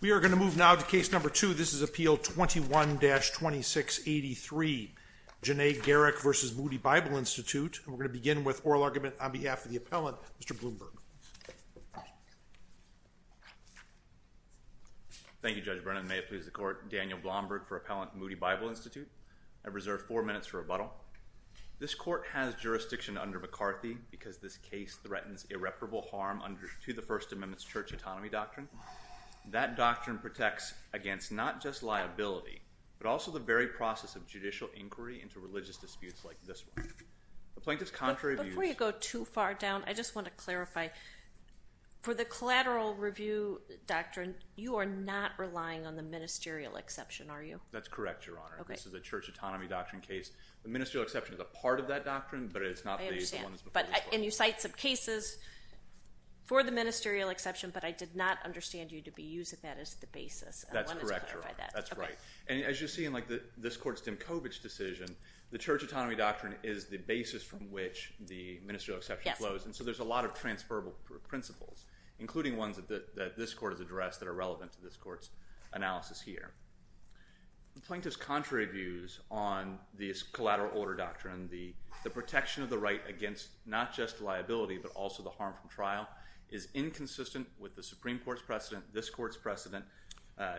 We are going to move now to Case No. 2. This is Appeal 21-2683, Janay Garrick v. Moody Bible Institute. We're going to begin with oral argument on behalf of the appellant, Mr. Bloomberg. Thank you, Judge Brennan. May it please the Court. Daniel Blomberg for Appellant, Moody Bible Institute. I reserve four minutes for rebuttal. This Court has jurisdiction under McCarthy because this case threatens irreparable harm to the First Amendment's Church Autonomy Doctrine. That doctrine protects against not just liability, but also the very process of judicial inquiry into religious disputes like this one. Before you go too far down, I just want to clarify. For the Collateral Review Doctrine, you are not relying on the Ministerial Exception, are you? That's correct, Your Honor. This is a Church Autonomy Doctrine case. The Ministerial Exception is a part of that doctrine, but it's not the one before it. And you cite some cases for the Ministerial Exception, but I did not understand you to be using that as the basis. That's correct, Your Honor. That's right. And as you see in this Court's Dimkovich decision, the Church Autonomy Doctrine is the basis from which the Ministerial Exception flows, and so there's a lot of transferable principles, including ones that this Court has addressed that are relevant to this Court's analysis here. The plaintiff's contrary views on the Collateral Order Doctrine, the protection of the right against not just liability but also the harm from trial, is inconsistent with the Supreme Court's precedent, this Court's precedent,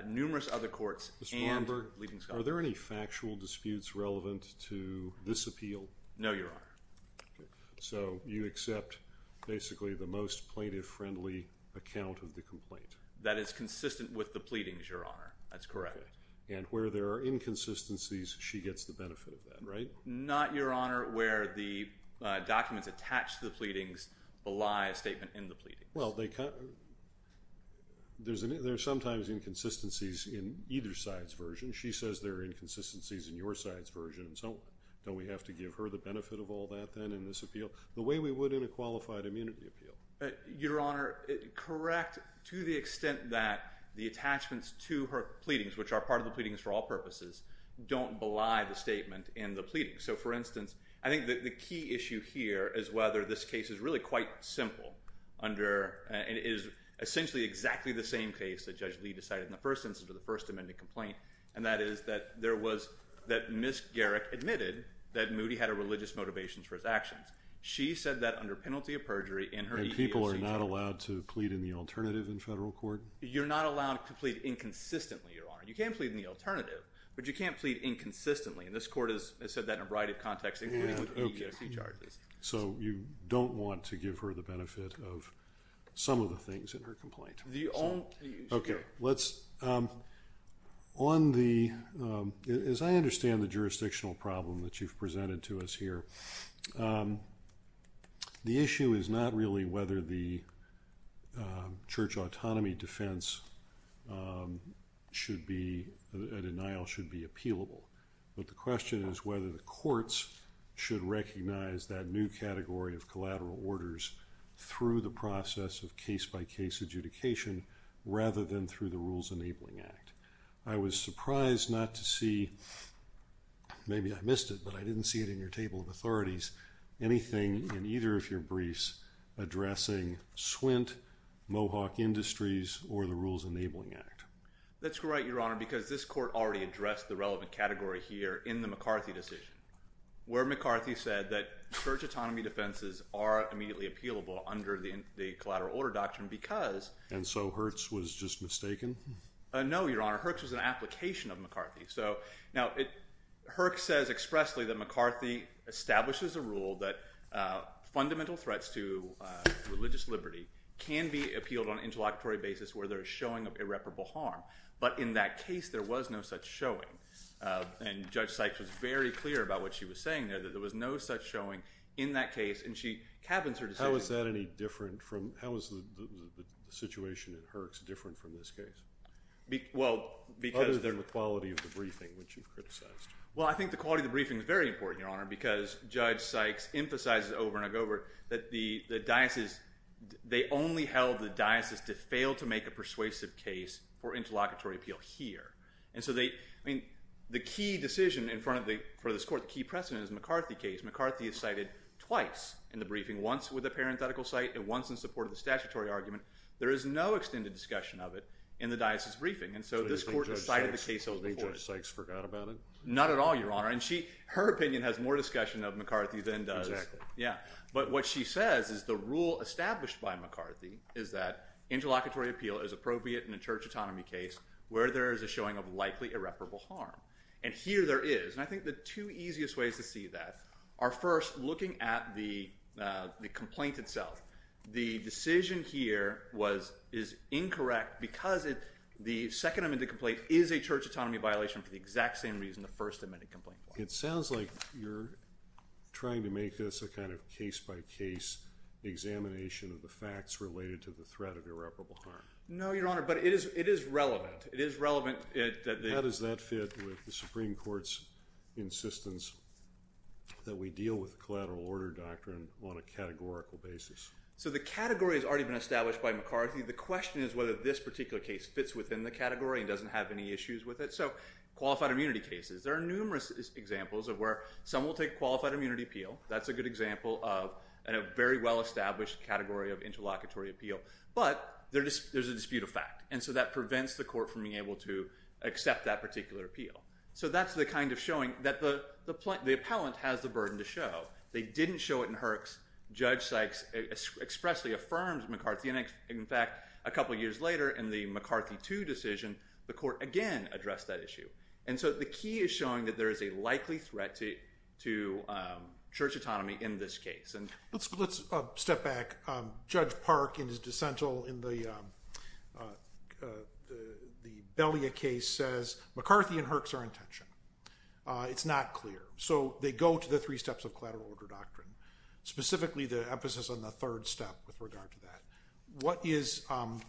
numerous other courts, and leading scholars. Mr. Warmberg, are there any factual disputes relevant to this appeal? No, Your Honor. So you accept basically the most plaintiff-friendly account of the complaint? That is consistent with the pleadings, Your Honor. That's correct. And where there are inconsistencies, she gets the benefit of that, right? Not, Your Honor, where the documents attached to the pleadings belie a statement in the pleading. Well, there are sometimes inconsistencies in either side's version. She says there are inconsistencies in your side's version, so don't we have to give her the benefit of all that then in this appeal, the way we would in a qualified immunity appeal? Your Honor, correct to the extent that the attachments to her pleadings, which are part of the pleadings for all purposes, don't belie the statement in the pleading. So, for instance, I think that the key issue here is whether this case is really quite simple under and is essentially exactly the same case that Judge Lee decided in the first instance of the First Amendment complaint, and that is that there was, that Ms. Garrick admitted that Moody had a religious motivation for his actions. She said that under penalty of perjury in her appeal. And people are not allowed to plead in the alternative in federal court? You're not allowed to plead inconsistently, Your Honor. You can plead in the alternative, but you can't plead inconsistently, and this court has said that in a variety of contexts, including with EEOC charges. So you don't want to give her the benefit of some of the things in her complaint? The only issue. Okay. Let's, on the, as I understand the jurisdictional problem that you've presented to us here, the issue is not really whether the church autonomy defense should be, a denial should be appealable, but the question is whether the courts should recognize that new category of collateral orders through the process of case-by-case adjudication rather than through the Rules Enabling Act. I was surprised not to see, maybe I missed it, but I didn't see it in your table of authorities, anything in either of your briefs addressing Swint, Mohawk Industries, or the Rules Enabling Act. That's right, Your Honor, because this court already addressed the relevant category here in the McCarthy decision, where McCarthy said that church autonomy defenses are immediately appealable under the collateral order doctrine because… And so Hertz was just mistaken? No, Your Honor. Hertz was an application of McCarthy. So now Hertz says expressly that McCarthy establishes a rule that fundamental threats to religious liberty can be appealed on an interlocutory basis where there is showing of irreparable harm, but in that case there was no such showing. And Judge Sykes was very clear about what she was saying there, that there was no such showing in that case, and she cabins her decision… How is that any different from – how is the situation in Hertz different from this case? Well, because… Other than the quality of the briefing, which you've criticized. Well, I think the quality of the briefing is very important, Your Honor, because Judge Sykes emphasizes over and over that the diocese – they only held the diocese to fail to make a persuasive case for interlocutory appeal here. And so they – I mean, the key decision in front of the – for this court, the key precedent is McCarthy case. McCarthy is cited twice in the briefing, once with a parenthetical cite and once in support of the statutory argument. There is no extended discussion of it in the diocese briefing, and so this court decided the case over before it. So you think Judge Sykes forgot about it? Not at all, Your Honor. And she – her opinion has more discussion of McCarthy than does – Exactly. Yeah. But what she says is the rule established by McCarthy is that interlocutory appeal is appropriate in a church autonomy case where there is a showing of likely irreparable harm. And here there is. And I think the two easiest ways to see that are, first, looking at the complaint itself. The decision here was – is incorrect because the second amended complaint is a church autonomy violation for the exact same reason the first amended complaint was. It sounds like you're trying to make this a kind of case-by-case examination of the facts related to the threat of irreparable harm. No, Your Honor, but it is relevant. It is relevant that the – How does that fit with the Supreme Court's insistence that we deal with the collateral order doctrine on a categorical basis? So the category has already been established by McCarthy. The question is whether this particular case fits within the category and doesn't have any issues with it. So qualified immunity cases, there are numerous examples of where some will take qualified immunity appeal. That's a good example of a very well-established category of interlocutory appeal. But there's a dispute of fact, and so that prevents the court from being able to accept that particular appeal. So that's the kind of showing that the appellant has the burden to show. They didn't show it in Herx. Judge Sykes expressly affirmed McCarthy. And, in fact, a couple years later in the McCarthy II decision, the court again addressed that issue. And so the key is showing that there is a likely threat to church autonomy in this case. Let's step back. Judge Park in his dissent in the Belia case says McCarthy and Herx are in tension. It's not clear. So they go to the three steps of collateral order doctrine, specifically the emphasis on the third step with regard to that. What is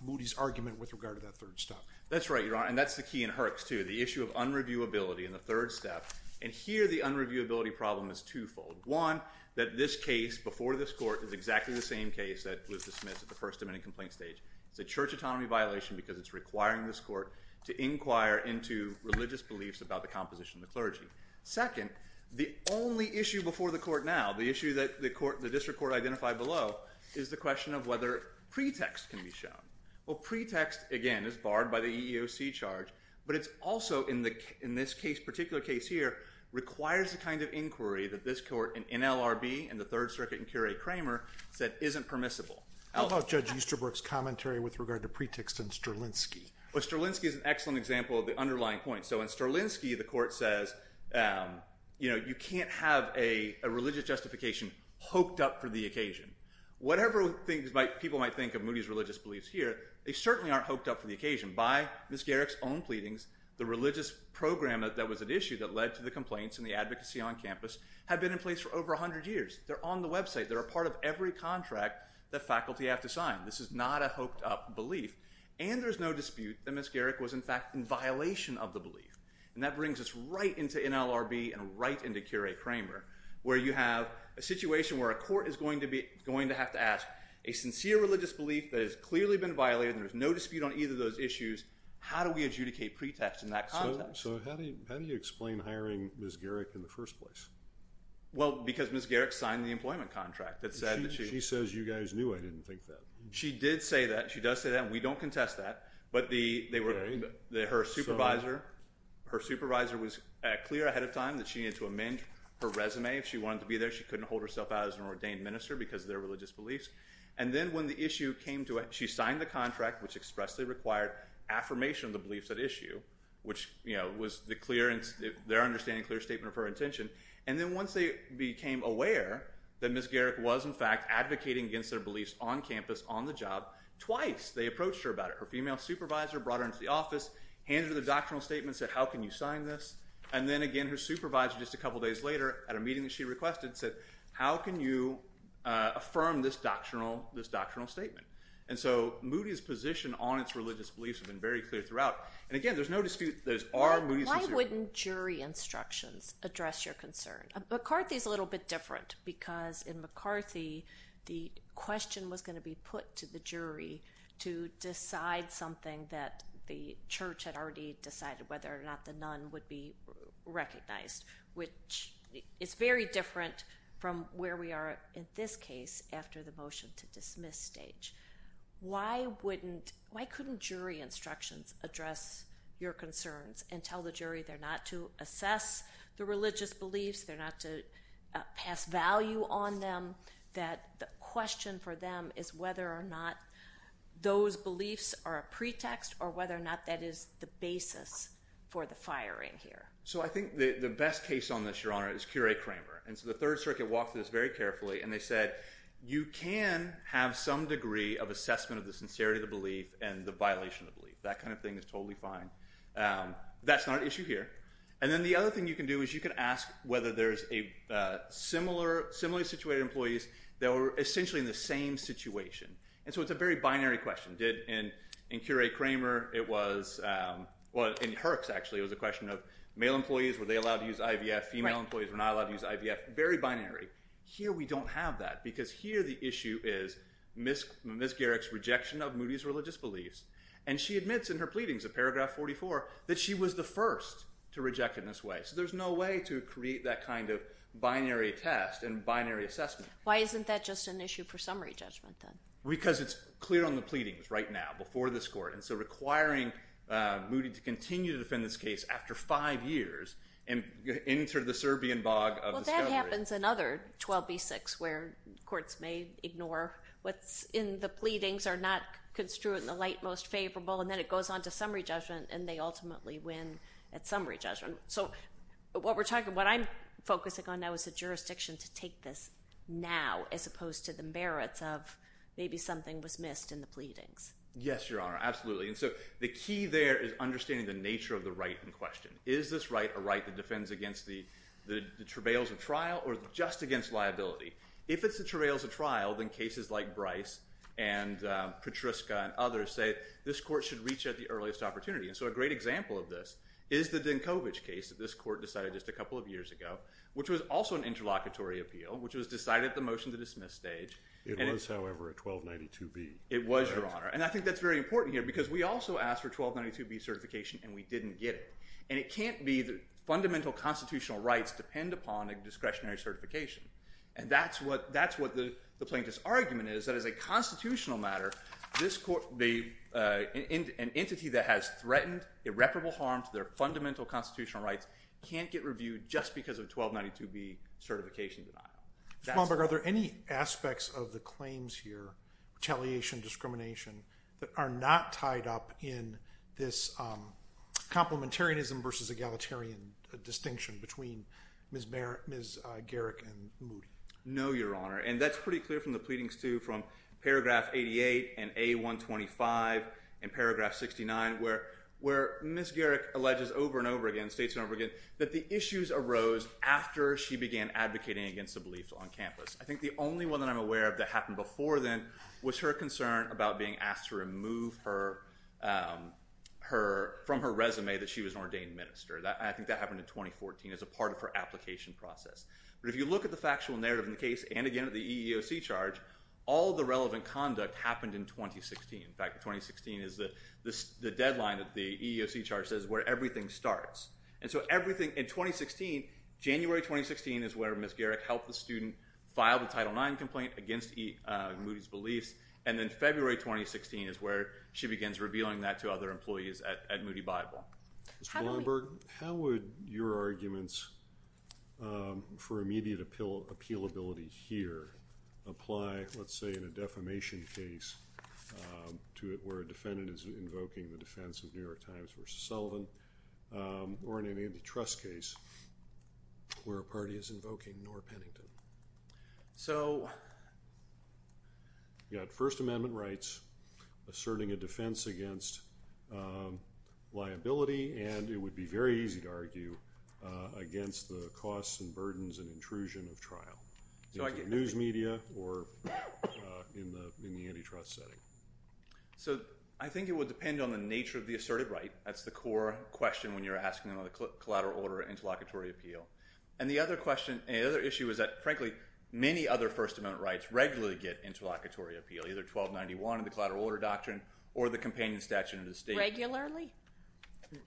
Moody's argument with regard to that third step? That's right, Your Honor, and that's the key in Herx too, the issue of unreviewability in the third step. And here the unreviewability problem is twofold. One, that this case before this court is exactly the same case that was dismissed at the first admitting complaint stage. It's a church autonomy violation because it's requiring this court to inquire into religious beliefs about the composition of the clergy. Second, the only issue before the court now, the issue that the district court identified below, is the question of whether pretext can be shown. Well, pretext, again, is barred by the EEOC charge. But it's also, in this particular case here, requires the kind of inquiry that this court in NLRB, in the Third Circuit in Curie-Kramer, said isn't permissible. How about Judge Easterbrook's commentary with regard to pretext in Strelinsky? Well, Strelinsky is an excellent example of the underlying point. So in Strelinsky, the court says, you know, you can't have a religious justification hooked up for the occasion. Whatever people might think of Moody's religious beliefs here, they certainly aren't hooked up for the occasion. By Ms. Garrick's own pleadings, the religious program that was at issue that led to the complaints and the advocacy on campus had been in place for over 100 years. They're on the website. They're a part of every contract that faculty have to sign. This is not a hooked up belief. And there's no dispute that Ms. Garrick was, in fact, in violation of the belief. And that brings us right into NLRB and right into Curie-Kramer where you have a situation where a court is going to have to ask a sincere religious belief that has clearly been violated and there's no dispute on either of those issues. How do we adjudicate pretext in that context? So how do you explain hiring Ms. Garrick in the first place? Well, because Ms. Garrick signed the employment contract that said that she… She says you guys knew I didn't think that. She did say that. She does say that. And we don't contest that. But her supervisor was clear ahead of time that she needed to amend her resume. If she wanted to be there, she couldn't hold herself out as an ordained minister because of their religious beliefs. And then when the issue came to it, she signed the contract, which expressly required affirmation of the beliefs at issue, which was their understanding, clear statement of her intention. And then once they became aware that Ms. Garrick was, in fact, advocating against their beliefs on campus, on the job, twice they approached her about it. Her female supervisor brought her into the office, handed her the doctrinal statement and said, how can you sign this? And then, again, her supervisor just a couple days later at a meeting that she requested said, how can you affirm this doctrinal statement? And so Moody's position on its religious beliefs has been very clear throughout. And, again, there's no dispute that it's our… Why wouldn't jury instructions address your concern? McCarthy's a little bit different because in McCarthy, the question was going to be put to the jury to decide something that the church had already decided whether or not the nun would be recognized, which is very different from where we are in this case after the motion to dismiss stage. Why couldn't jury instructions address your concerns and tell the jury they're not to assess the religious beliefs, they're not to pass value on them, that the question for them is whether or not those beliefs are a pretext or whether or not that is the basis for the firing here? So I think the best case on this, Your Honor, is Curie-Kramer. And so the Third Circuit walked through this very carefully, and they said, you can have some degree of assessment of the sincerity of the belief and the violation of the belief. That kind of thing is totally fine. That's not an issue here. And then the other thing you can do is you can ask whether there's a similarly situated employees that were essentially in the same situation. And so it's a very binary question. In Curie-Kramer, it was – well, in Herx, actually, it was a question of male employees, were they allowed to use IVF? Female employees were not allowed to use IVF. Very binary. Here we don't have that because here the issue is Ms. Garrick's rejection of Moody's religious beliefs. And she admits in her pleadings of paragraph 44 that she was the first to reject it in this way. So there's no way to create that kind of binary test and binary assessment. Why isn't that just an issue for summary judgment then? Because it's clear on the pleadings right now before this court. And so requiring Moody to continue to defend this case after five years and enter the Serbian bog of discovery. Well, that happens in other 12b-6 where courts may ignore what's in the pleadings or not construe it in the light most favorable, and then it goes on to summary judgment, and they ultimately win at summary judgment. So what we're talking – what I'm focusing on now is the jurisdiction to take this now as opposed to the merits of maybe something was missed in the pleadings. Yes, Your Honor, absolutely. And so the key there is understanding the nature of the right in question. Is this right a right that defends against the travails of trial or just against liability? If it's the travails of trial, then cases like Bryce and Petriska and others say this court should reach at the earliest opportunity. And so a great example of this is the Dinkovic case that this court decided just a couple of years ago, which was also an interlocutory appeal, which was decided at the motion-to-dismiss stage. It was, however, a 1292b. It was, Your Honor. And I think that's very important here because we also asked for 1292b certification, and we didn't get it. And it can't be the fundamental constitutional rights depend upon a discretionary certification. And that's what the plaintiff's argument is, that as a constitutional matter, an entity that has threatened irreparable harm to their fundamental constitutional rights can't get reviewed just because of 1292b certification denial. Mr. Plumberg, are there any aspects of the claims here, retaliation, discrimination, that are not tied up in this complementarianism versus egalitarian distinction between Ms. Garrick and Moody? No, Your Honor. And that's pretty clear from the pleadings, too, from paragraph 88 and A125 and paragraph 69, where Ms. Garrick alleges over and over again, states over and over again, that the issues arose after she began advocating against the beliefs on campus. I think the only one that I'm aware of that happened before then was her concern about being asked to remove from her resume that she was an ordained minister. I think that happened in 2014 as a part of her application process. But if you look at the factual narrative in the case and, again, at the EEOC charge, all the relevant conduct happened in 2016. In fact, 2016 is the deadline that the EEOC charge says where everything starts. And so everything in 2016, January 2016, is where Ms. Garrick helped the student file the Title IX complaint against Moody's beliefs. And then February 2016 is where she begins revealing that to other employees at Moody Bible. Mr. Plumberg, how would your arguments for immediate appealability here apply, let's say, in a defamation case where a defendant is invoking the defense of New York Times versus Sullivan? Or in an antitrust case where a party is invoking Norah Pennington? You've got First Amendment rights asserting a defense against liability, and it would be very easy to argue against the costs and burdens and intrusion of trial, either in the news media or in the antitrust setting. So I think it would depend on the nature of the asserted right. That's the core question when you're asking about the collateral order interlocutory appeal. And the other issue is that, frankly, many other First Amendment rights regularly get interlocutory appeal, either 1291 in the Collateral Order Doctrine or the Companion Statute of the State. Regularly?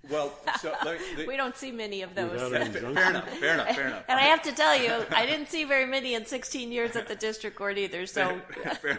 We don't see many of those. Fair enough, fair enough. And I have to tell you, I didn't see very many in 16 years at the district court either. Fair enough, fair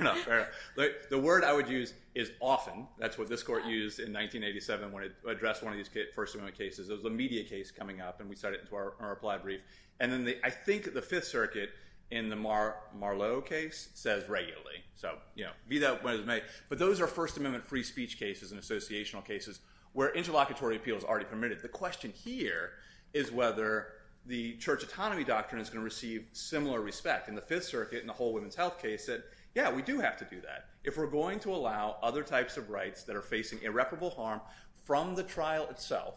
enough. The word I would use is often. That's what this court used in 1987 when it addressed one of these First Amendment cases. It was a media case coming up, and we started it into our applied brief. And then I think the Fifth Circuit in the Marlowe case says regularly. So, you know, be that what it may. But those are First Amendment free speech cases and associational cases where interlocutory appeal is already permitted. The question here is whether the Church Autonomy Doctrine is going to receive similar respect. And the Fifth Circuit in the Whole Women's Health case said, yeah, we do have to do that. If we're going to allow other types of rights that are facing irreparable harm from the trial itself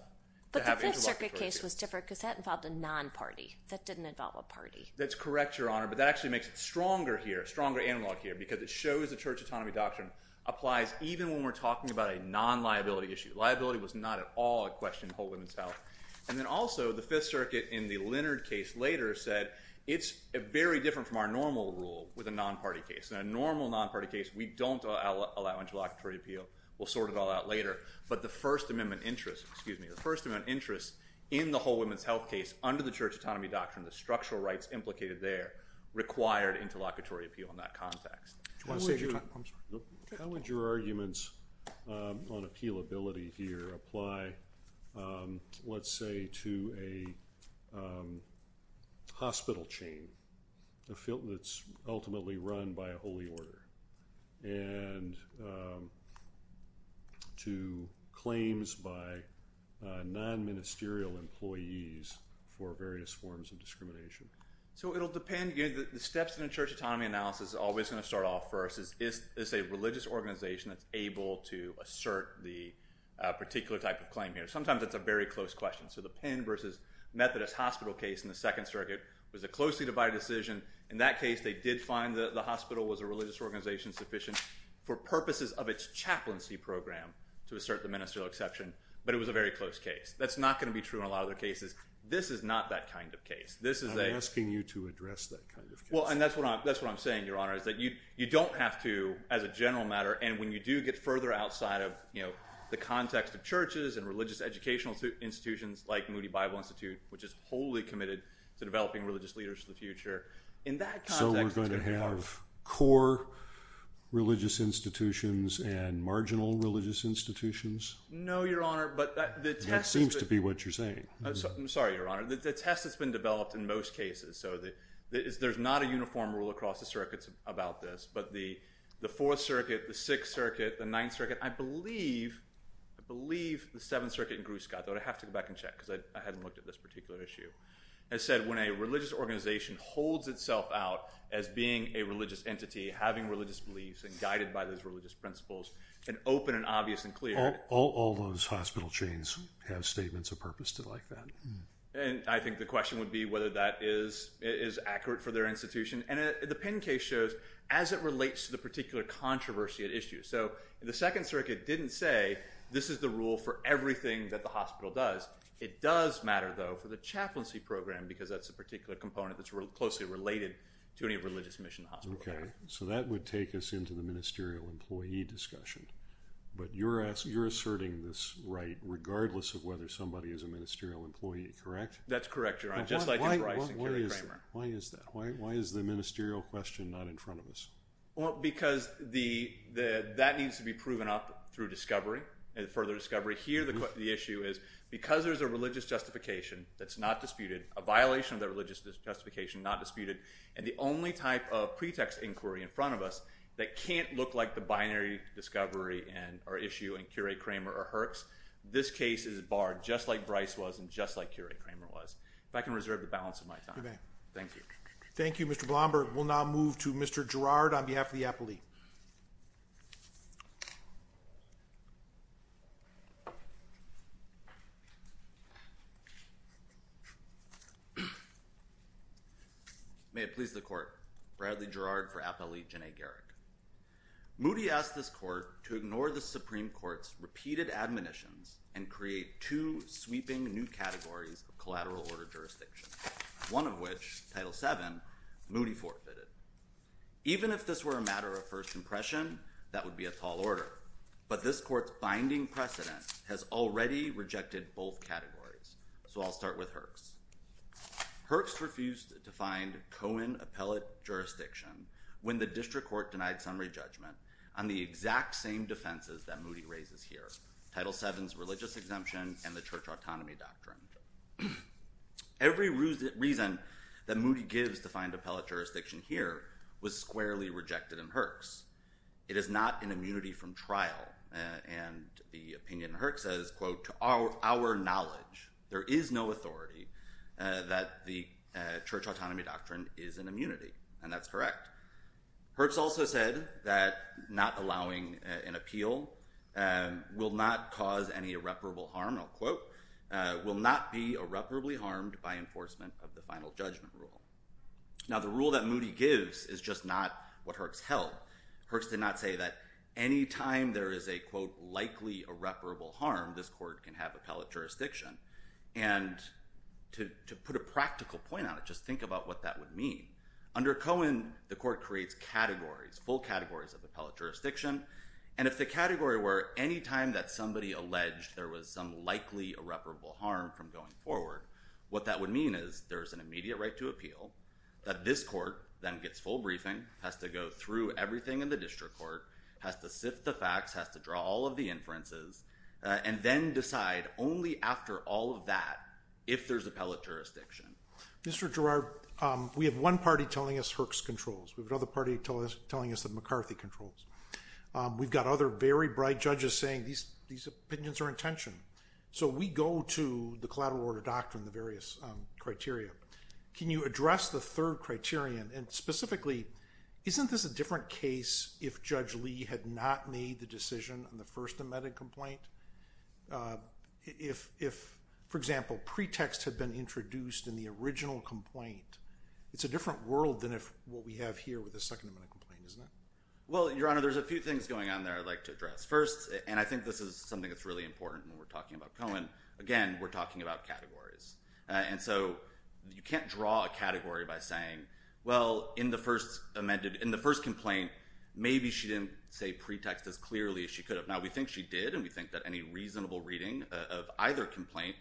to have interlocutory appeal. But the Fifth Circuit case was different because that involved a non-party. That didn't involve a party. That's correct, Your Honor, but that actually makes it stronger here, stronger analog here, because it shows the Church Autonomy Doctrine applies even when we're talking about a non-liability issue. Liability was not at all a question in Whole Women's Health. And then also the Fifth Circuit in the Leonard case later said it's very different from our normal rule with a non-party case. In a normal non-party case, we don't allow interlocutory appeal. We'll sort it all out later. But the First Amendment interest, excuse me, the First Amendment interest in the Whole Women's Health case under the Church Autonomy Doctrine, the structural rights implicated there, required interlocutory appeal in that context. How would your arguments on appealability here apply, let's say, to a hospital chain that's ultimately run by a holy order and to claims by non-ministerial employees for various forms of discrimination? So it'll depend. The steps in a church autonomy analysis are always going to start off first. Is it a religious organization that's able to assert the particular type of claim here? Sometimes it's a very close question. So the Penn v. Methodist Hospital case in the Second Circuit was a closely divided decision. In that case, they did find that the hospital was a religious organization sufficient for purposes of its chaplaincy program to assert the ministerial exception, but it was a very close case. That's not going to be true in a lot of other cases. This is not that kind of case. I'm asking you to address that kind of case. Well, and that's what I'm saying, Your Honor, is that you don't have to, as a general matter, and when you do get further outside of the context of churches and religious educational institutions like Moody Bible Institute, which is wholly committed to developing religious leaders for the future, in that context… So we're going to have core religious institutions and marginal religious institutions? No, Your Honor, but the test… It seems to be what you're saying. I'm sorry, Your Honor. The test has been developed in most cases, so there's not a uniform rule across the circuits about this, but the Fourth Circuit, the Sixth Circuit, the Ninth Circuit, I believe the Seventh Circuit in Grewscot, though I'd have to go back and check because I hadn't looked at this particular issue, has said when a religious organization holds itself out as being a religious entity, having religious beliefs and guided by those religious principles and open and obvious and clear… All those hospital chains have statements of purpose to like that. And I think the question would be whether that is accurate for their institution, and the Penn case shows as it relates to the particular controversy at issue. So the Second Circuit didn't say this is the rule for everything that the hospital does. It does matter, though, for the chaplaincy program because that's a particular component that's closely related to any religious mission in the hospital. Okay, so that would take us into the ministerial employee discussion. But you're asserting this right regardless of whether somebody is a ministerial employee, correct? That's correct, Your Honor, just like Bryce and Kerry Kramer. Why is that? Why is the ministerial question not in front of us? Well, because that needs to be proven up through discovery, further discovery. Here the issue is because there's a religious justification that's not disputed, a violation of the religious justification not disputed, and the only type of pretext inquiry in front of us that can't look like the binary discovery or issue in Kerry Kramer or Herx, this case is barred just like Bryce was and just like Kerry Kramer was. If I can reserve the balance of my time. Okay. Thank you. Thank you, Mr. Blomberg. We'll now move to Mr. Girard on behalf of the appellee. Thank you. May it please the court. Bradley Girard for Appellee Jenea Garrick. Moody asked this court to ignore the Supreme Court's repeated admonitions and create two sweeping new categories of collateral order jurisdiction, one of which, Title VII, Moody forfeited. Even if this were a matter of first impression, that would be a tall order. But this court's binding precedent has already rejected both categories. So I'll start with Herx. Herx refused to find Cohen appellate jurisdiction when the district court denied summary judgment on the exact same defenses that Moody raises here, Title VII's religious exemption and the church autonomy doctrine. Every reason that Moody gives to find appellate jurisdiction here was squarely rejected in Herx. It is not an immunity from trial. And the opinion in Herx says, quote, to our knowledge, there is no authority that the church autonomy doctrine is an immunity. And that's correct. Herx also said that not allowing an appeal will not cause any irreparable harm, unquote, will not be irreparably harmed by enforcement of the final judgment rule. Now, the rule that Moody gives is just not what Herx held. Herx did not say that any time there is a, quote, likely irreparable harm, this court can have appellate jurisdiction. And to put a practical point on it, just think about what that would mean. Under Cohen, the court creates categories, full categories of appellate jurisdiction. And if the category were any time that somebody alleged there was some likely irreparable harm from going forward, what that would mean is there's an immediate right to appeal, that this court then gets full briefing, has to go through everything in the district court, has to sift the facts, has to draw all of the inferences, and then decide only after all of that if there's appellate jurisdiction. Mr. Girard, we have one party telling us Herx controls. We have another party telling us that McCarthy controls. We've got other very bright judges saying these opinions are in tension. So we go to the collateral order doctrine, the various criteria. Can you address the third criterion? And specifically, isn't this a different case if Judge Lee had not made the decision on the first amended complaint? If, for example, pretext had been introduced in the original complaint, it's a different world than what we have here with the second amended complaint, isn't it? Well, Your Honor, there's a few things going on there I'd like to address. First, and I think this is something that's really important when we're talking about Cohen, again, we're talking about categories. And so you can't draw a category by saying, well, in the first amended, in the first complaint, maybe she didn't say pretext as clearly as she could have. Now, we think she did, and we think that any reasonable reading of either complaint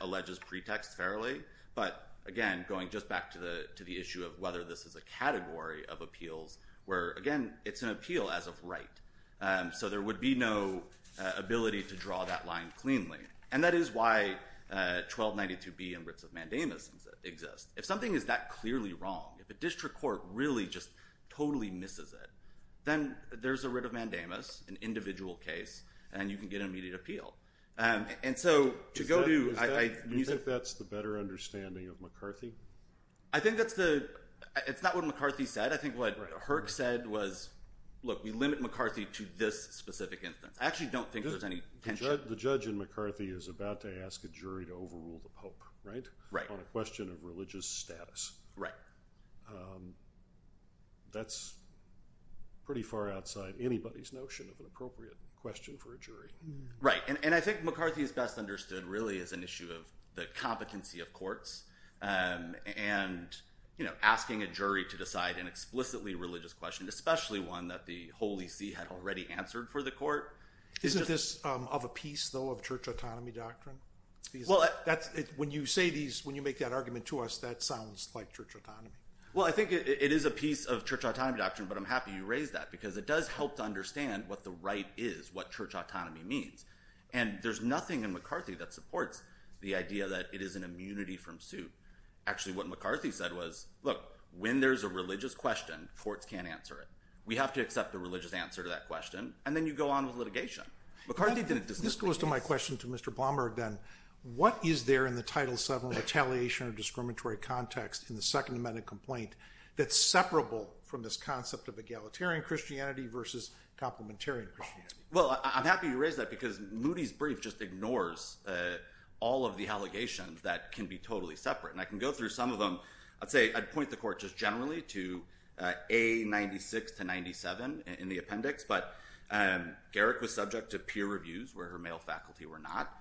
alleges pretext fairly. But, again, going just back to the issue of whether this is a category of appeals where, again, it's an appeal as of right. So there would be no ability to draw that line cleanly. And that is why 1292B and writs of mandamus exist. If something is that clearly wrong, if a district court really just totally misses it, then there's a writ of mandamus, an individual case, and you can get an immediate appeal. And so to go to – Do you think that's the better understanding of McCarthy? I think that's the – it's not what McCarthy said. I think what Herck said was, look, we limit McCarthy to this specific instance. I actually don't think there's any tension. The judge in McCarthy is about to ask a jury to overrule the pope, right? Right. On a question of religious status. Right. That's pretty far outside anybody's notion of an appropriate question for a jury. Right. And I think McCarthy is best understood, really, as an issue of the competency of courts and asking a jury to decide an explicitly religious question, especially one that the Holy See had already answered for the court. Isn't this of a piece, though, of church autonomy doctrine? When you say these, when you make that argument to us, that sounds like church autonomy. Well, I think it is a piece of church autonomy doctrine, but I'm happy you raised that because it does help to understand what the right is, what church autonomy means. And there's nothing in McCarthy that supports the idea that it is an immunity from suit. Actually, what McCarthy said was, look, when there's a religious question, courts can't answer it. We have to accept the religious answer to that question, and then you go on with litigation. McCarthy didn't disagree. This goes to my question to Mr. Blomberg, then. What is there in the Title VII retaliation of discriminatory context in the Second Amendment complaint that's separable from this concept of egalitarian Christianity versus complementarian Christianity? Well, I'm happy you raised that because Moody's brief just ignores all of the allegations that can be totally separate. And I can go through some of them. I'd say I'd point the court just generally to A96 to 97 in the appendix, but Garrick was subject to peer reviews where her male faculty were not.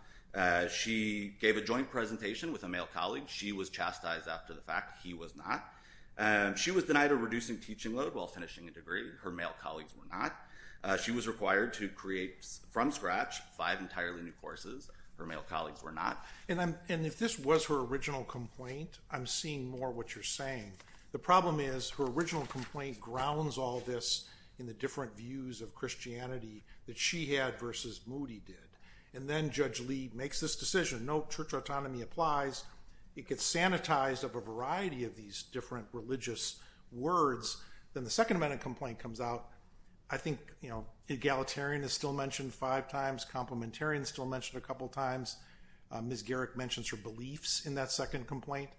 She gave a joint presentation with a male colleague. She was chastised after the fact he was not. She was denied a reducing teaching load while finishing a degree. Her male colleagues were not. She was required to create from scratch five entirely new courses. Her male colleagues were not. And if this was her original complaint, I'm seeing more what you're saying. The problem is her original complaint grounds all this in the different views of Christianity that she had versus Moody did. And then Judge Lee makes this decision. No, church autonomy applies. It gets sanitized of a variety of these different religious words. Then the Second Amendment complaint comes out. I think, you know, egalitarian is still mentioned five times. Complementarian is still mentioned a couple times. Ms. Garrick mentions her beliefs in that second complaint.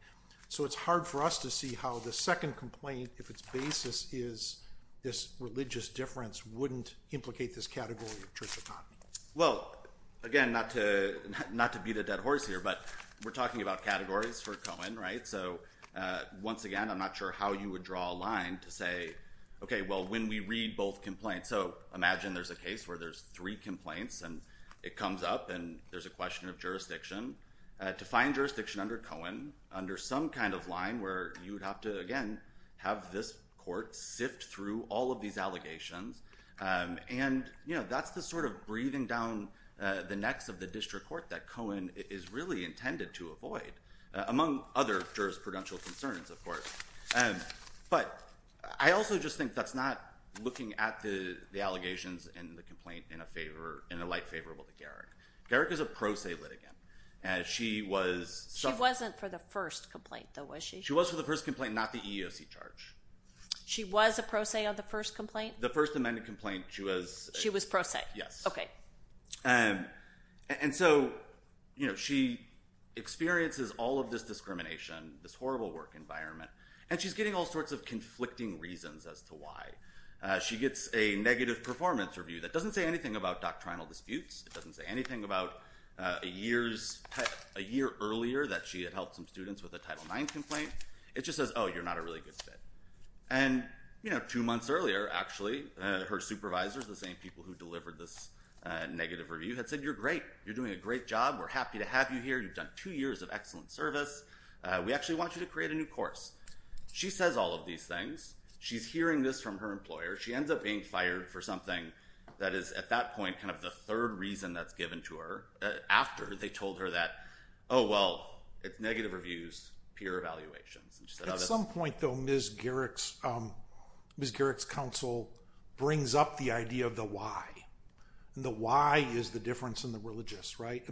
So it's hard for us to see how the second complaint, if its basis is this religious difference, wouldn't implicate this category of church autonomy. Well, again, not to beat a dead horse here, but we're talking about categories for Cohen, right? So once again, I'm not sure how you would draw a line to say, okay, well, when we read both complaints. So imagine there's a case where there's three complaints and it comes up and there's a question of jurisdiction. To find jurisdiction under Cohen, under some kind of line where you would have to, again, have this court sift through all of these allegations. And, you know, that's the sort of breathing down the necks of the district court that Cohen is really intended to avoid, among other jurisprudential concerns, of course. But I also just think that's not looking at the allegations in the complaint in a favor, in a light favorable to Garrick. Garrick is a pro se litigant. She wasn't for the first complaint, though, was she? She was for the first complaint, not the EEOC charge. She was a pro se on the first complaint? The first amended complaint, she was. She was pro se. Yes. Okay. And so, you know, she experiences all of this discrimination, this horrible work environment, and she's getting all sorts of conflicting reasons as to why. She gets a negative performance review that doesn't say anything about doctrinal disputes. It doesn't say anything about a year earlier that she had helped some students with a Title IX complaint. It just says, oh, you're not a really good fit. And, you know, two months earlier, actually, her supervisors, the same people who delivered this negative review, had said, you're great. You're doing a great job. We're happy to have you here. You've done two years of excellent service. We actually want you to create a new course. She says all of these things. She's hearing this from her employer. She ends up being fired for something that is, at that point, kind of the third reason that's given to her after they told her that, oh, well, it's negative reviews, peer evaluations. At some point, though, Ms. Garrick's counsel brings up the idea of the why. And the why is the difference in the religious, right?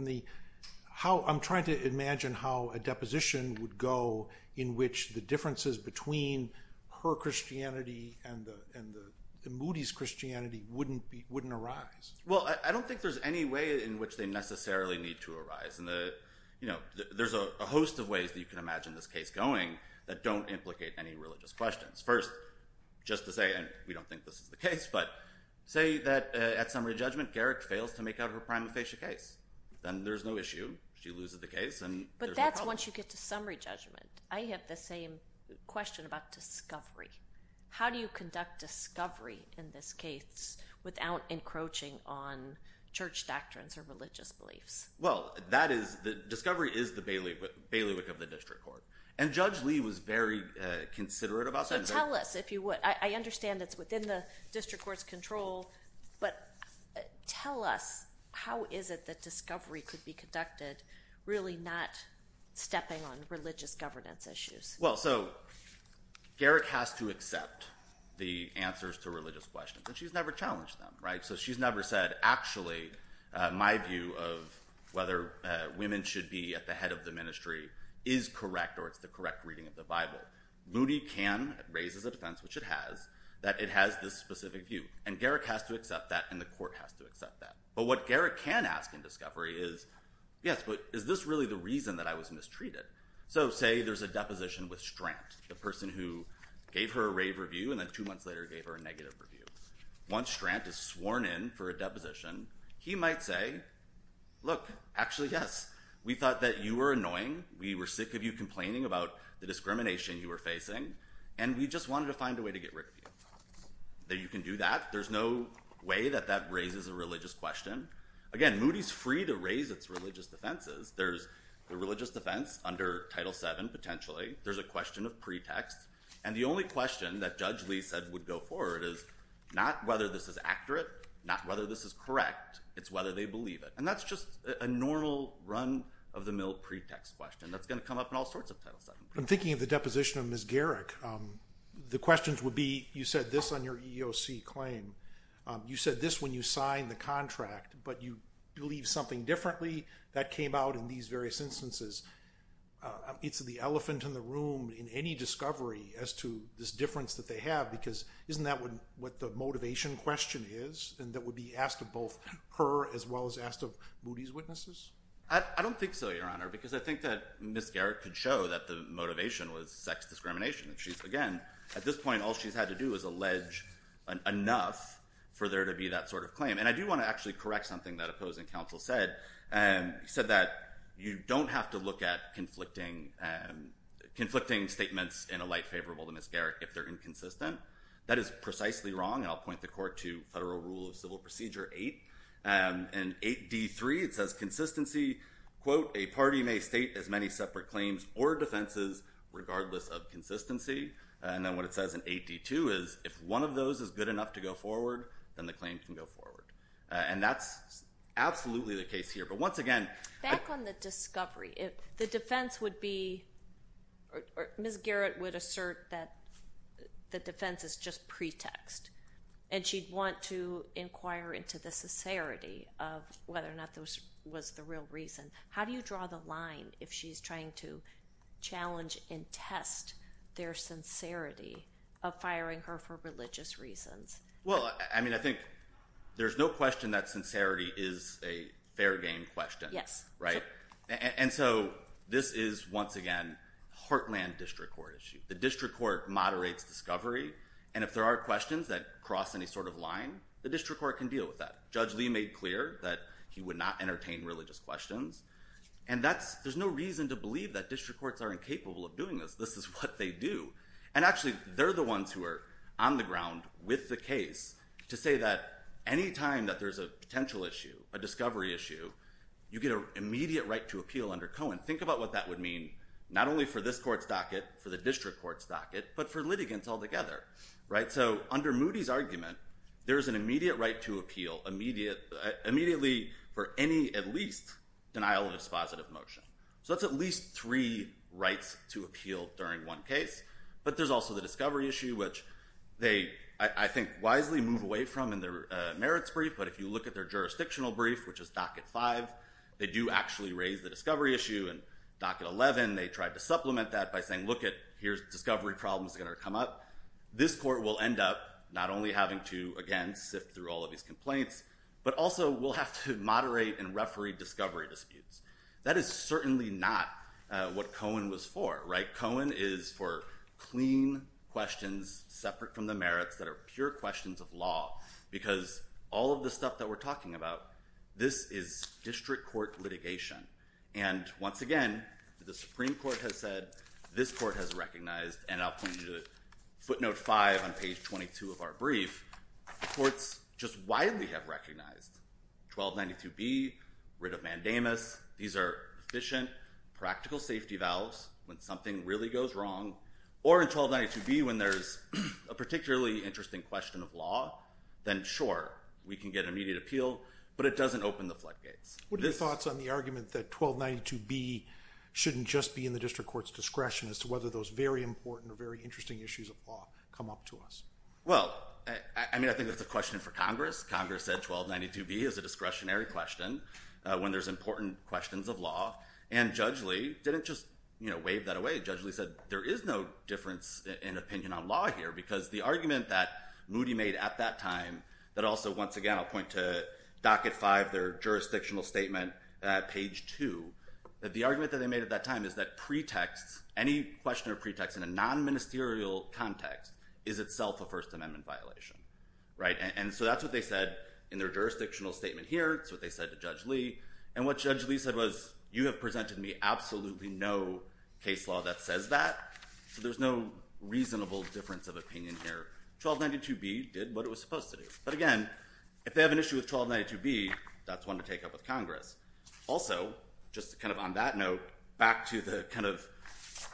I'm trying to imagine how a deposition would go in which the differences between her Christianity and the Moody's Christianity wouldn't arise. Well, I don't think there's any way in which they necessarily need to arise. And, you know, there's a host of ways that you can imagine this case going that don't implicate any religious questions. First, just to say, and we don't think this is the case, but say that at summary judgment, Garrick fails to make out her prima facie case. Then there's no issue. She loses the case, and there's no problem. But that's once you get to summary judgment. I have the same question about discovery. How do you conduct discovery in this case without encroaching on church doctrines or religious beliefs? Well, that is, discovery is the bailiwick of the district court. And Judge Lee was very considerate about that. So tell us, if you would. I understand it's within the district court's control, but tell us how is it that discovery could be conducted really not stepping on religious governance issues? Well, so Garrick has to accept the answers to religious questions, and she's never challenged them, right? So she's never said, actually, my view of whether women should be at the head of the ministry is correct or it's the correct reading of the Bible. Moody can, it raises a defense, which it has, that it has this specific view. And Garrick has to accept that, and the court has to accept that. But what Garrick can ask in discovery is, yes, but is this really the reason that I was mistreated? So say there's a deposition with Strant, the person who gave her a rave review and then two months later gave her a negative review. Once Strant is sworn in for a deposition, he might say, look, actually, yes, we thought that you were annoying. We were sick of you complaining about the discrimination you were facing, and we just wanted to find a way to get rid of you. That you can do that. There's no way that that raises a religious question. Again, Moody's free to raise its religious defenses. There's the religious defense under Title VII, potentially. There's a question of pretext. And the only question that Judge Lee said would go forward is not whether this is accurate, not whether this is correct. It's whether they believe it. And that's just a normal run-of-the-mill pretext question that's going to come up in all sorts of Title VII cases. I'm thinking of the deposition of Ms. Garrick. The questions would be, you said this on your EEOC claim. You said this when you signed the contract, but you believe something differently that came out in these various instances. It's the elephant in the room in any discovery as to this difference that they have, because isn't that what the motivation question is? And that would be asked of both her as well as asked of Moody's witnesses? I don't think so, Your Honor, because I think that Ms. Garrick could show that the motivation was sex discrimination. Again, at this point, all she's had to do is allege enough for there to be that sort of claim. And I do want to actually correct something that opposing counsel said. He said that you don't have to look at conflicting statements in a light favorable to Ms. Garrick if they're inconsistent. That is precisely wrong, and I'll point the court to Federal Rule of Civil Procedure 8. In 8d3, it says, consistency, quote, a party may state as many separate claims or defenses regardless of consistency. And then what it says in 8d2 is if one of those is good enough to go forward, then the claim can go forward. And that's absolutely the case here. But once again— Back on the discovery, the defense would be – Ms. Garrick would assert that the defense is just pretext, and she'd want to inquire into the sincerity of whether or not this was the real reason. How do you draw the line if she's trying to challenge and test their sincerity of firing her for religious reasons? Well, I mean, I think there's no question that sincerity is a fair game question. Yes. Right? And so this is, once again, heartland district court issue. The district court moderates discovery, and if there are questions that cross any sort of line, the district court can deal with that. Judge Lee made clear that he would not entertain religious questions, and there's no reason to believe that district courts are incapable of doing this. This is what they do. And actually, they're the ones who are on the ground with the case to say that any time that there's a potential issue, a discovery issue, you get an immediate right to appeal under Cohen. Think about what that would mean not only for this court's docket, for the district court's docket, but for litigants altogether. So under Moody's argument, there is an immediate right to appeal immediately for any, at least, denial of dispositive motion. So that's at least three rights to appeal during one case. But there's also the discovery issue, which they, I think, wisely move away from in their merits brief. But if you look at their jurisdictional brief, which is docket five, they do actually raise the discovery issue. And docket 11, they tried to supplement that by saying, lookit, here's discovery problems that are going to come up. This court will end up not only having to, again, sift through all of these complaints, but also will have to moderate and referee discovery disputes. That is certainly not what Cohen was for, right? Cohen is for clean questions separate from the merits that are pure questions of law. Because all of the stuff that we're talking about, this is district court litigation. And once again, the Supreme Court has said this court has recognized, and I'll point you to footnote five on page 22 of our brief, courts just widely have recognized 1292B, writ of mandamus. These are efficient, practical safety valves when something really goes wrong. Or in 1292B, when there's a particularly interesting question of law, then sure, we can get immediate appeal, but it doesn't open the floodgates. What are your thoughts on the argument that 1292B shouldn't just be in the district court's discretion as to whether those very important or very interesting issues of law come up to us? Well, I mean, I think that's a question for Congress. Congress said 1292B is a discretionary question when there's important questions of law. And Judge Lee didn't just, you know, wave that away. Judge Lee said there is no difference in opinion on law here, because the argument that Moody made at that time, that also, once again, I'll point to docket five, their jurisdictional statement at page two, that the argument that they made at that time is that pretext, any question of pretext in a non-ministerial context, is itself a First Amendment violation. Right? And so that's what they said in their jurisdictional statement here. It's what they said to Judge Lee. And what Judge Lee said was, you have presented me absolutely no case law that says that. So there's no reasonable difference of opinion here. 1292B did what it was supposed to do. But again, if they have an issue with 1292B, that's one to take up with Congress. Also, just kind of on that note, back to the kind of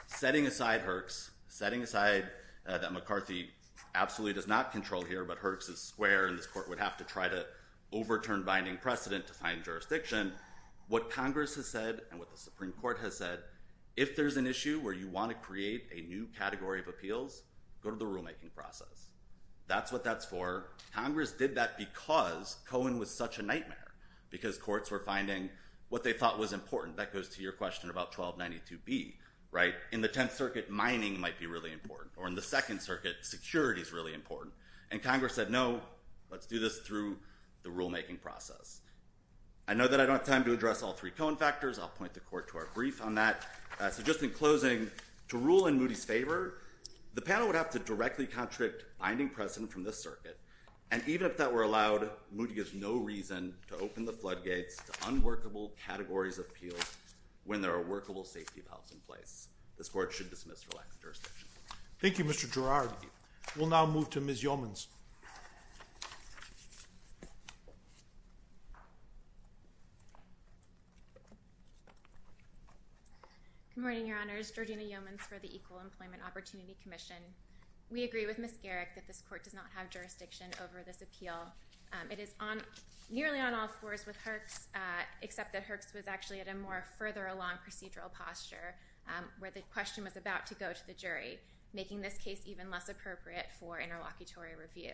setting aside Herx, setting aside that McCarthy absolutely does not control here, but Herx is square and this court would have to try to overturn binding precedent to find jurisdiction, what Congress has said and what the Supreme Court has said, if there's an issue where you want to create a new category of appeals, go to the rulemaking process. That's what that's for. Congress did that because Cohen was such a nightmare, because courts were finding what they thought was important. That goes to your question about 1292B. Right? In the Tenth Circuit, mining might be really important. Or in the Second Circuit, security is really important. And Congress said, no, let's do this through the rulemaking process. I know that I don't have time to address all three Cohen factors. I'll point the court to our brief on that. So just in closing, to rule in Moody's favor, the panel would have to directly contradict binding precedent from this circuit. And even if that were allowed, Moody gives no reason to open the floodgates to unworkable categories of appeals when there are workable safety valves in place. This court should dismiss for lack of jurisdiction. Thank you, Mr. Girard. We'll now move to Ms. Yeomans. Good morning, Your Honors. Georgina Yeomans for the Equal Employment Opportunity Commission. We agree with Ms. Garrick that this court does not have jurisdiction over this appeal. It is nearly on all fours with Herx, except that Herx was actually at a more further along procedural posture where the question was about to go to the jury, making this case even less appropriate for interlocutory review.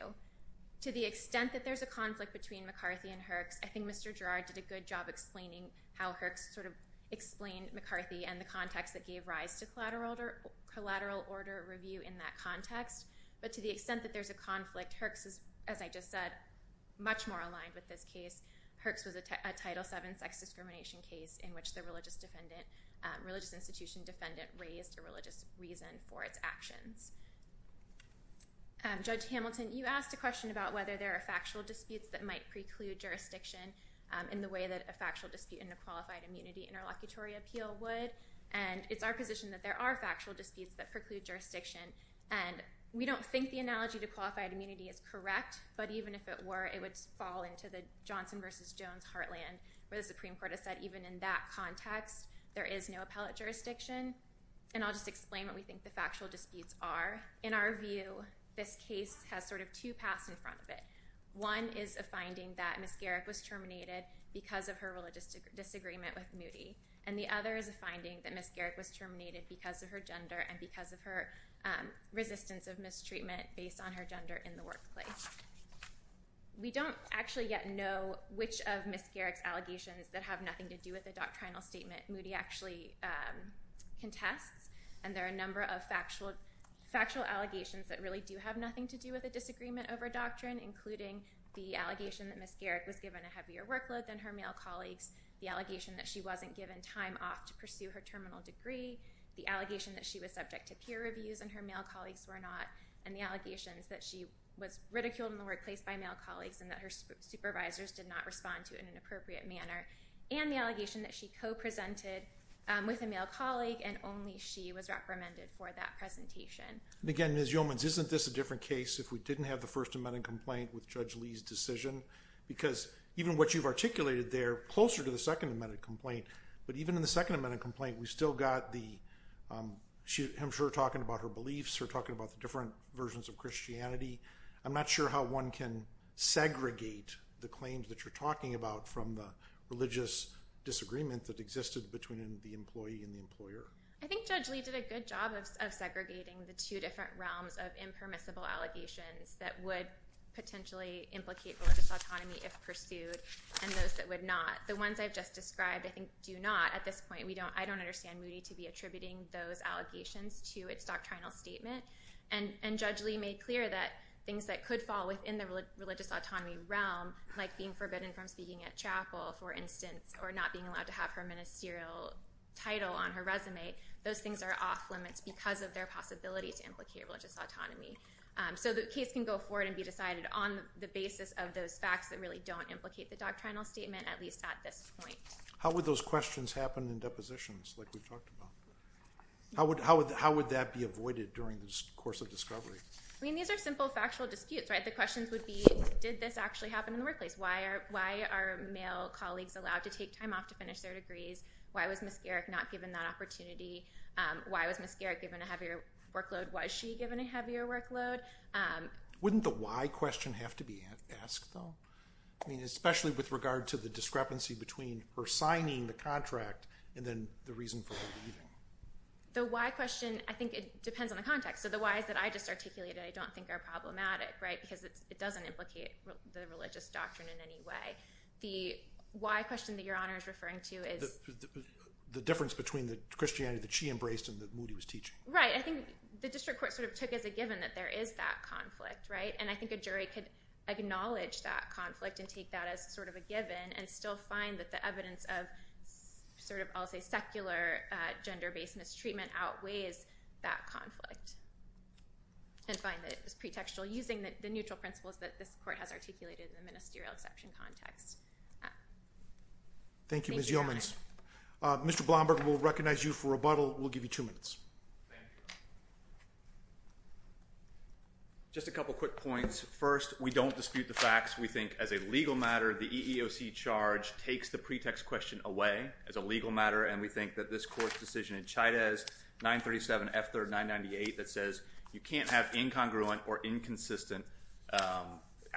To the extent that there's a conflict between McCarthy and Herx, I think Mr. Girard did a good job explaining how Herx sort of explained McCarthy and the context that gave rise to collateral order review in that context. But to the extent that there's a conflict, Herx is, as I just said, much more aligned with this case. Herx was a Title VII sex discrimination case in which the religious institution defendant raised a religious reason for its actions. Judge Hamilton, you asked a question about whether there are factual disputes that might preclude jurisdiction in the way that a factual dispute in a qualified immunity interlocutory appeal would. And it's our position that there are factual disputes that preclude jurisdiction. And we don't think the analogy to qualified immunity is correct, but even if it were, it would fall into the Johnson v. Jones heartland where the Supreme Court has said even in that context, there is no appellate jurisdiction. And I'll just explain what we think the factual disputes are. In our view, this case has sort of two paths in front of it. One is a finding that Ms. Garrick was terminated because of her religious disagreement with Moody. And the other is a finding that Ms. Garrick was terminated because of her gender and because of her resistance of mistreatment based on her gender in the workplace. We don't actually yet know which of Ms. Garrick's allegations that have nothing to do with the doctrinal statement Moody actually contests. And there are a number of factual allegations that really do have nothing to do with a disagreement over doctrine, including the allegation that Ms. Garrick was given a heavier workload than her male colleagues, the allegation that she wasn't given time off to pursue her terminal degree, the allegation that she was subject to peer reviews and her male colleagues were not, and the allegations that she was ridiculed in the workplace by male colleagues and that her supervisors did not respond to it in an appropriate manner, and the allegation that she co-presented with a male colleague and only she was reprimanded for that presentation. And again, Ms. Yeomans, isn't this a different case if we didn't have the First Amendment complaint with Judge Lee's decision? Because even what you've articulated there, closer to the Second Amendment complaint, but even in the Second Amendment complaint, I'm sure you're talking about her beliefs, you're talking about the different versions of Christianity. I'm not sure how one can segregate the claims that you're talking about from the religious disagreement that existed between the employee and the employer. I think Judge Lee did a good job of segregating the two different realms of impermissible allegations that would potentially implicate religious autonomy if pursued and those that would not. The ones I've just described, I think, do not at this point. I don't understand Moody to be attributing those allegations to its doctrinal statement. And Judge Lee made clear that things that could fall within the religious autonomy realm, like being forbidden from speaking at chapel, for instance, or not being allowed to have her ministerial title on her resume, those things are off limits because of their possibility to implicate religious autonomy. So the case can go forward and be decided on the basis of those facts that really don't implicate the doctrinal statement, at least at this point. How would those questions happen in depositions, like we've talked about? How would that be avoided during this course of discovery? I mean, these are simple factual disputes, right? The questions would be, did this actually happen in the workplace? Why are male colleagues allowed to take time off to finish their degrees? Why was Ms. Garrick not given that opportunity? Why was Ms. Garrick given a heavier workload? Was she given a heavier workload? Wouldn't the why question have to be asked, though? I mean, especially with regard to the discrepancy between her signing the contract and then the reason for her leaving. The why question, I think it depends on the context. So the why's that I just articulated I don't think are problematic, right, because it doesn't implicate the religious doctrine in any way. The why question that Your Honor is referring to is— The difference between the Christianity that she embraced and the one that Moody was teaching. Right. I think the district court sort of took as a given that there is that conflict, right? And I think a jury could acknowledge that conflict and take that as sort of a given and still find that the evidence of sort of, I'll say, secular gender-based mistreatment outweighs that conflict. And find that it was pretextual using the neutral principles that this court has articulated in the ministerial exception context. Thank you, Ms. Yeomans. Thank you, Your Honor. Mr. Blomberg, we'll recognize you for rebuttal. We'll give you two minutes. Thank you. Just a couple quick points. First, we don't dispute the facts. We think as a legal matter, the EEOC charge takes the pretext question away as a legal matter. And we think that this court's decision in Chavez 937 F3rd 998 that says you can't have incongruent or inconsistent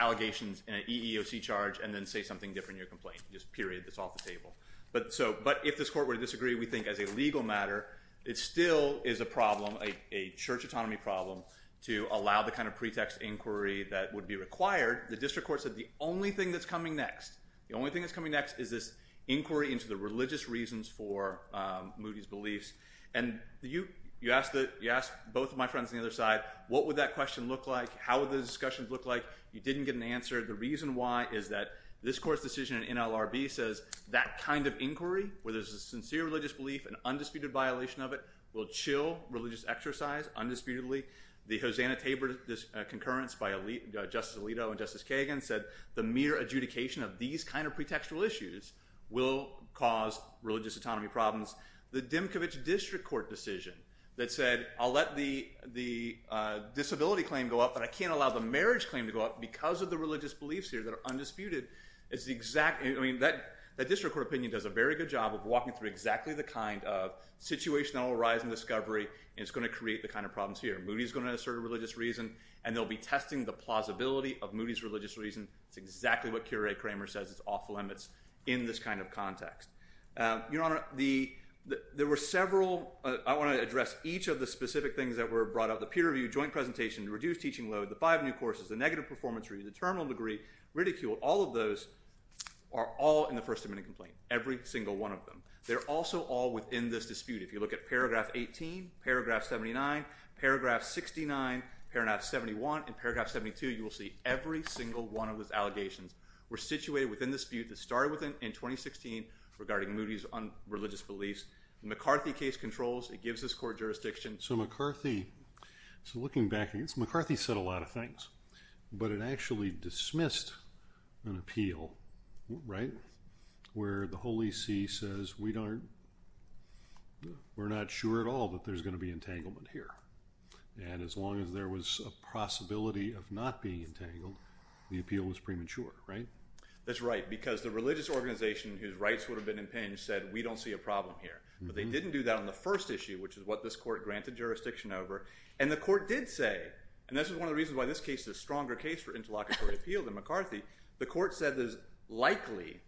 allegations in an EEOC charge and then say something different in your complaint. Just period. That's off the table. But if this court were to disagree, we think as a legal matter, it still is a problem, a church autonomy problem, to allow the kind of pretext inquiry that would be required. The district court said the only thing that's coming next, the only thing that's coming next is this inquiry into the religious reasons for Moody's beliefs. And you asked both of my friends on the other side, what would that question look like? How would those discussions look like? You didn't get an answer. The reason why is that this court's decision in NLRB says that kind of inquiry where there's a sincere religious belief, an undisputed violation of it, will chill religious exercise undisputedly. The Hosanna-Tabor concurrence by Justice Alito and Justice Kagan said the mere adjudication of these kind of pretextual issues will cause religious autonomy problems. The Dimkovich district court decision that said I'll let the disability claim go up, but I can't allow the marriage claim to go up because of the religious beliefs here that are undisputed. That district court opinion does a very good job of walking through exactly the kind of situation that will arise in discovery, and it's going to create the kind of problems here. Moody's going to assert a religious reason, and they'll be testing the plausibility of Moody's religious reason. It's exactly what Keira A. Kramer says is off limits in this kind of context. Your Honor, there were several—I want to address each of the specific things that were brought up—the peer review, joint presentation, reduced teaching load, the five new courses, the negative performance review, the terminal degree, ridicule. All of those are all in the First Amendment complaint, every single one of them. They're also all within this dispute. If you look at Paragraph 18, Paragraph 79, Paragraph 69, Paragraph 71, and Paragraph 72, you will see every single one of those allegations were situated within the dispute that started in 2016 regarding Moody's religious beliefs. The McCarthy case controls, it gives this court jurisdiction. So McCarthy said a lot of things, but it actually dismissed an appeal, right, where the Holy See says we're not sure at all that there's going to be entanglement here. And as long as there was a possibility of not being entangled, the appeal was premature, right? That's right, because the religious organization whose rights would have been impinged said we don't see a problem here. But they didn't do that on the first issue, which is what this court granted jurisdiction over. And the court did say—and this is one of the reasons why this case is a stronger case for interlocutory appeal than McCarthy—the court said there's likely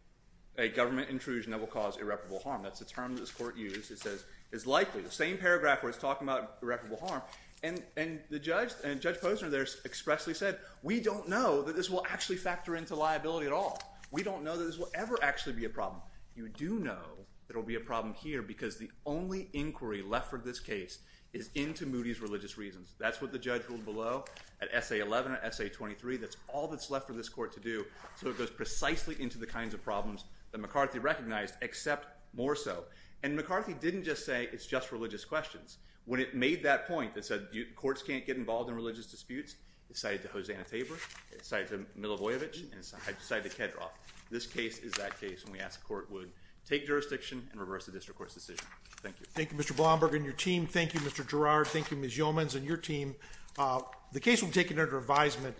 a government intrusion that will cause irreparable harm. That's the term that this court used. It says it's likely. The same paragraph where it's talking about irreparable harm. And Judge Posner there expressly said we don't know that this will actually factor into liability at all. We don't know that this will ever actually be a problem. You do know there will be a problem here because the only inquiry left for this case is into Moody's religious reasons. That's what the judge ruled below at Essay 11 and Essay 23. That's all that's left for this court to do. So it goes precisely into the kinds of problems that McCarthy recognized, except more so. And McCarthy didn't just say it's just religious questions. When it made that point that said courts can't get involved in religious disputes, it cited to Hosanna Tabor, it cited to Milivojevic, and it cited to Kedroff. This case is that case, and we ask the court would take jurisdiction and reverse the district court's decision. Thank you. Thank you, Mr. Blomberg and your team. Thank you, Mr. Girard. Thank you, Ms. Yeomans and your team. The case will be taken under advisement.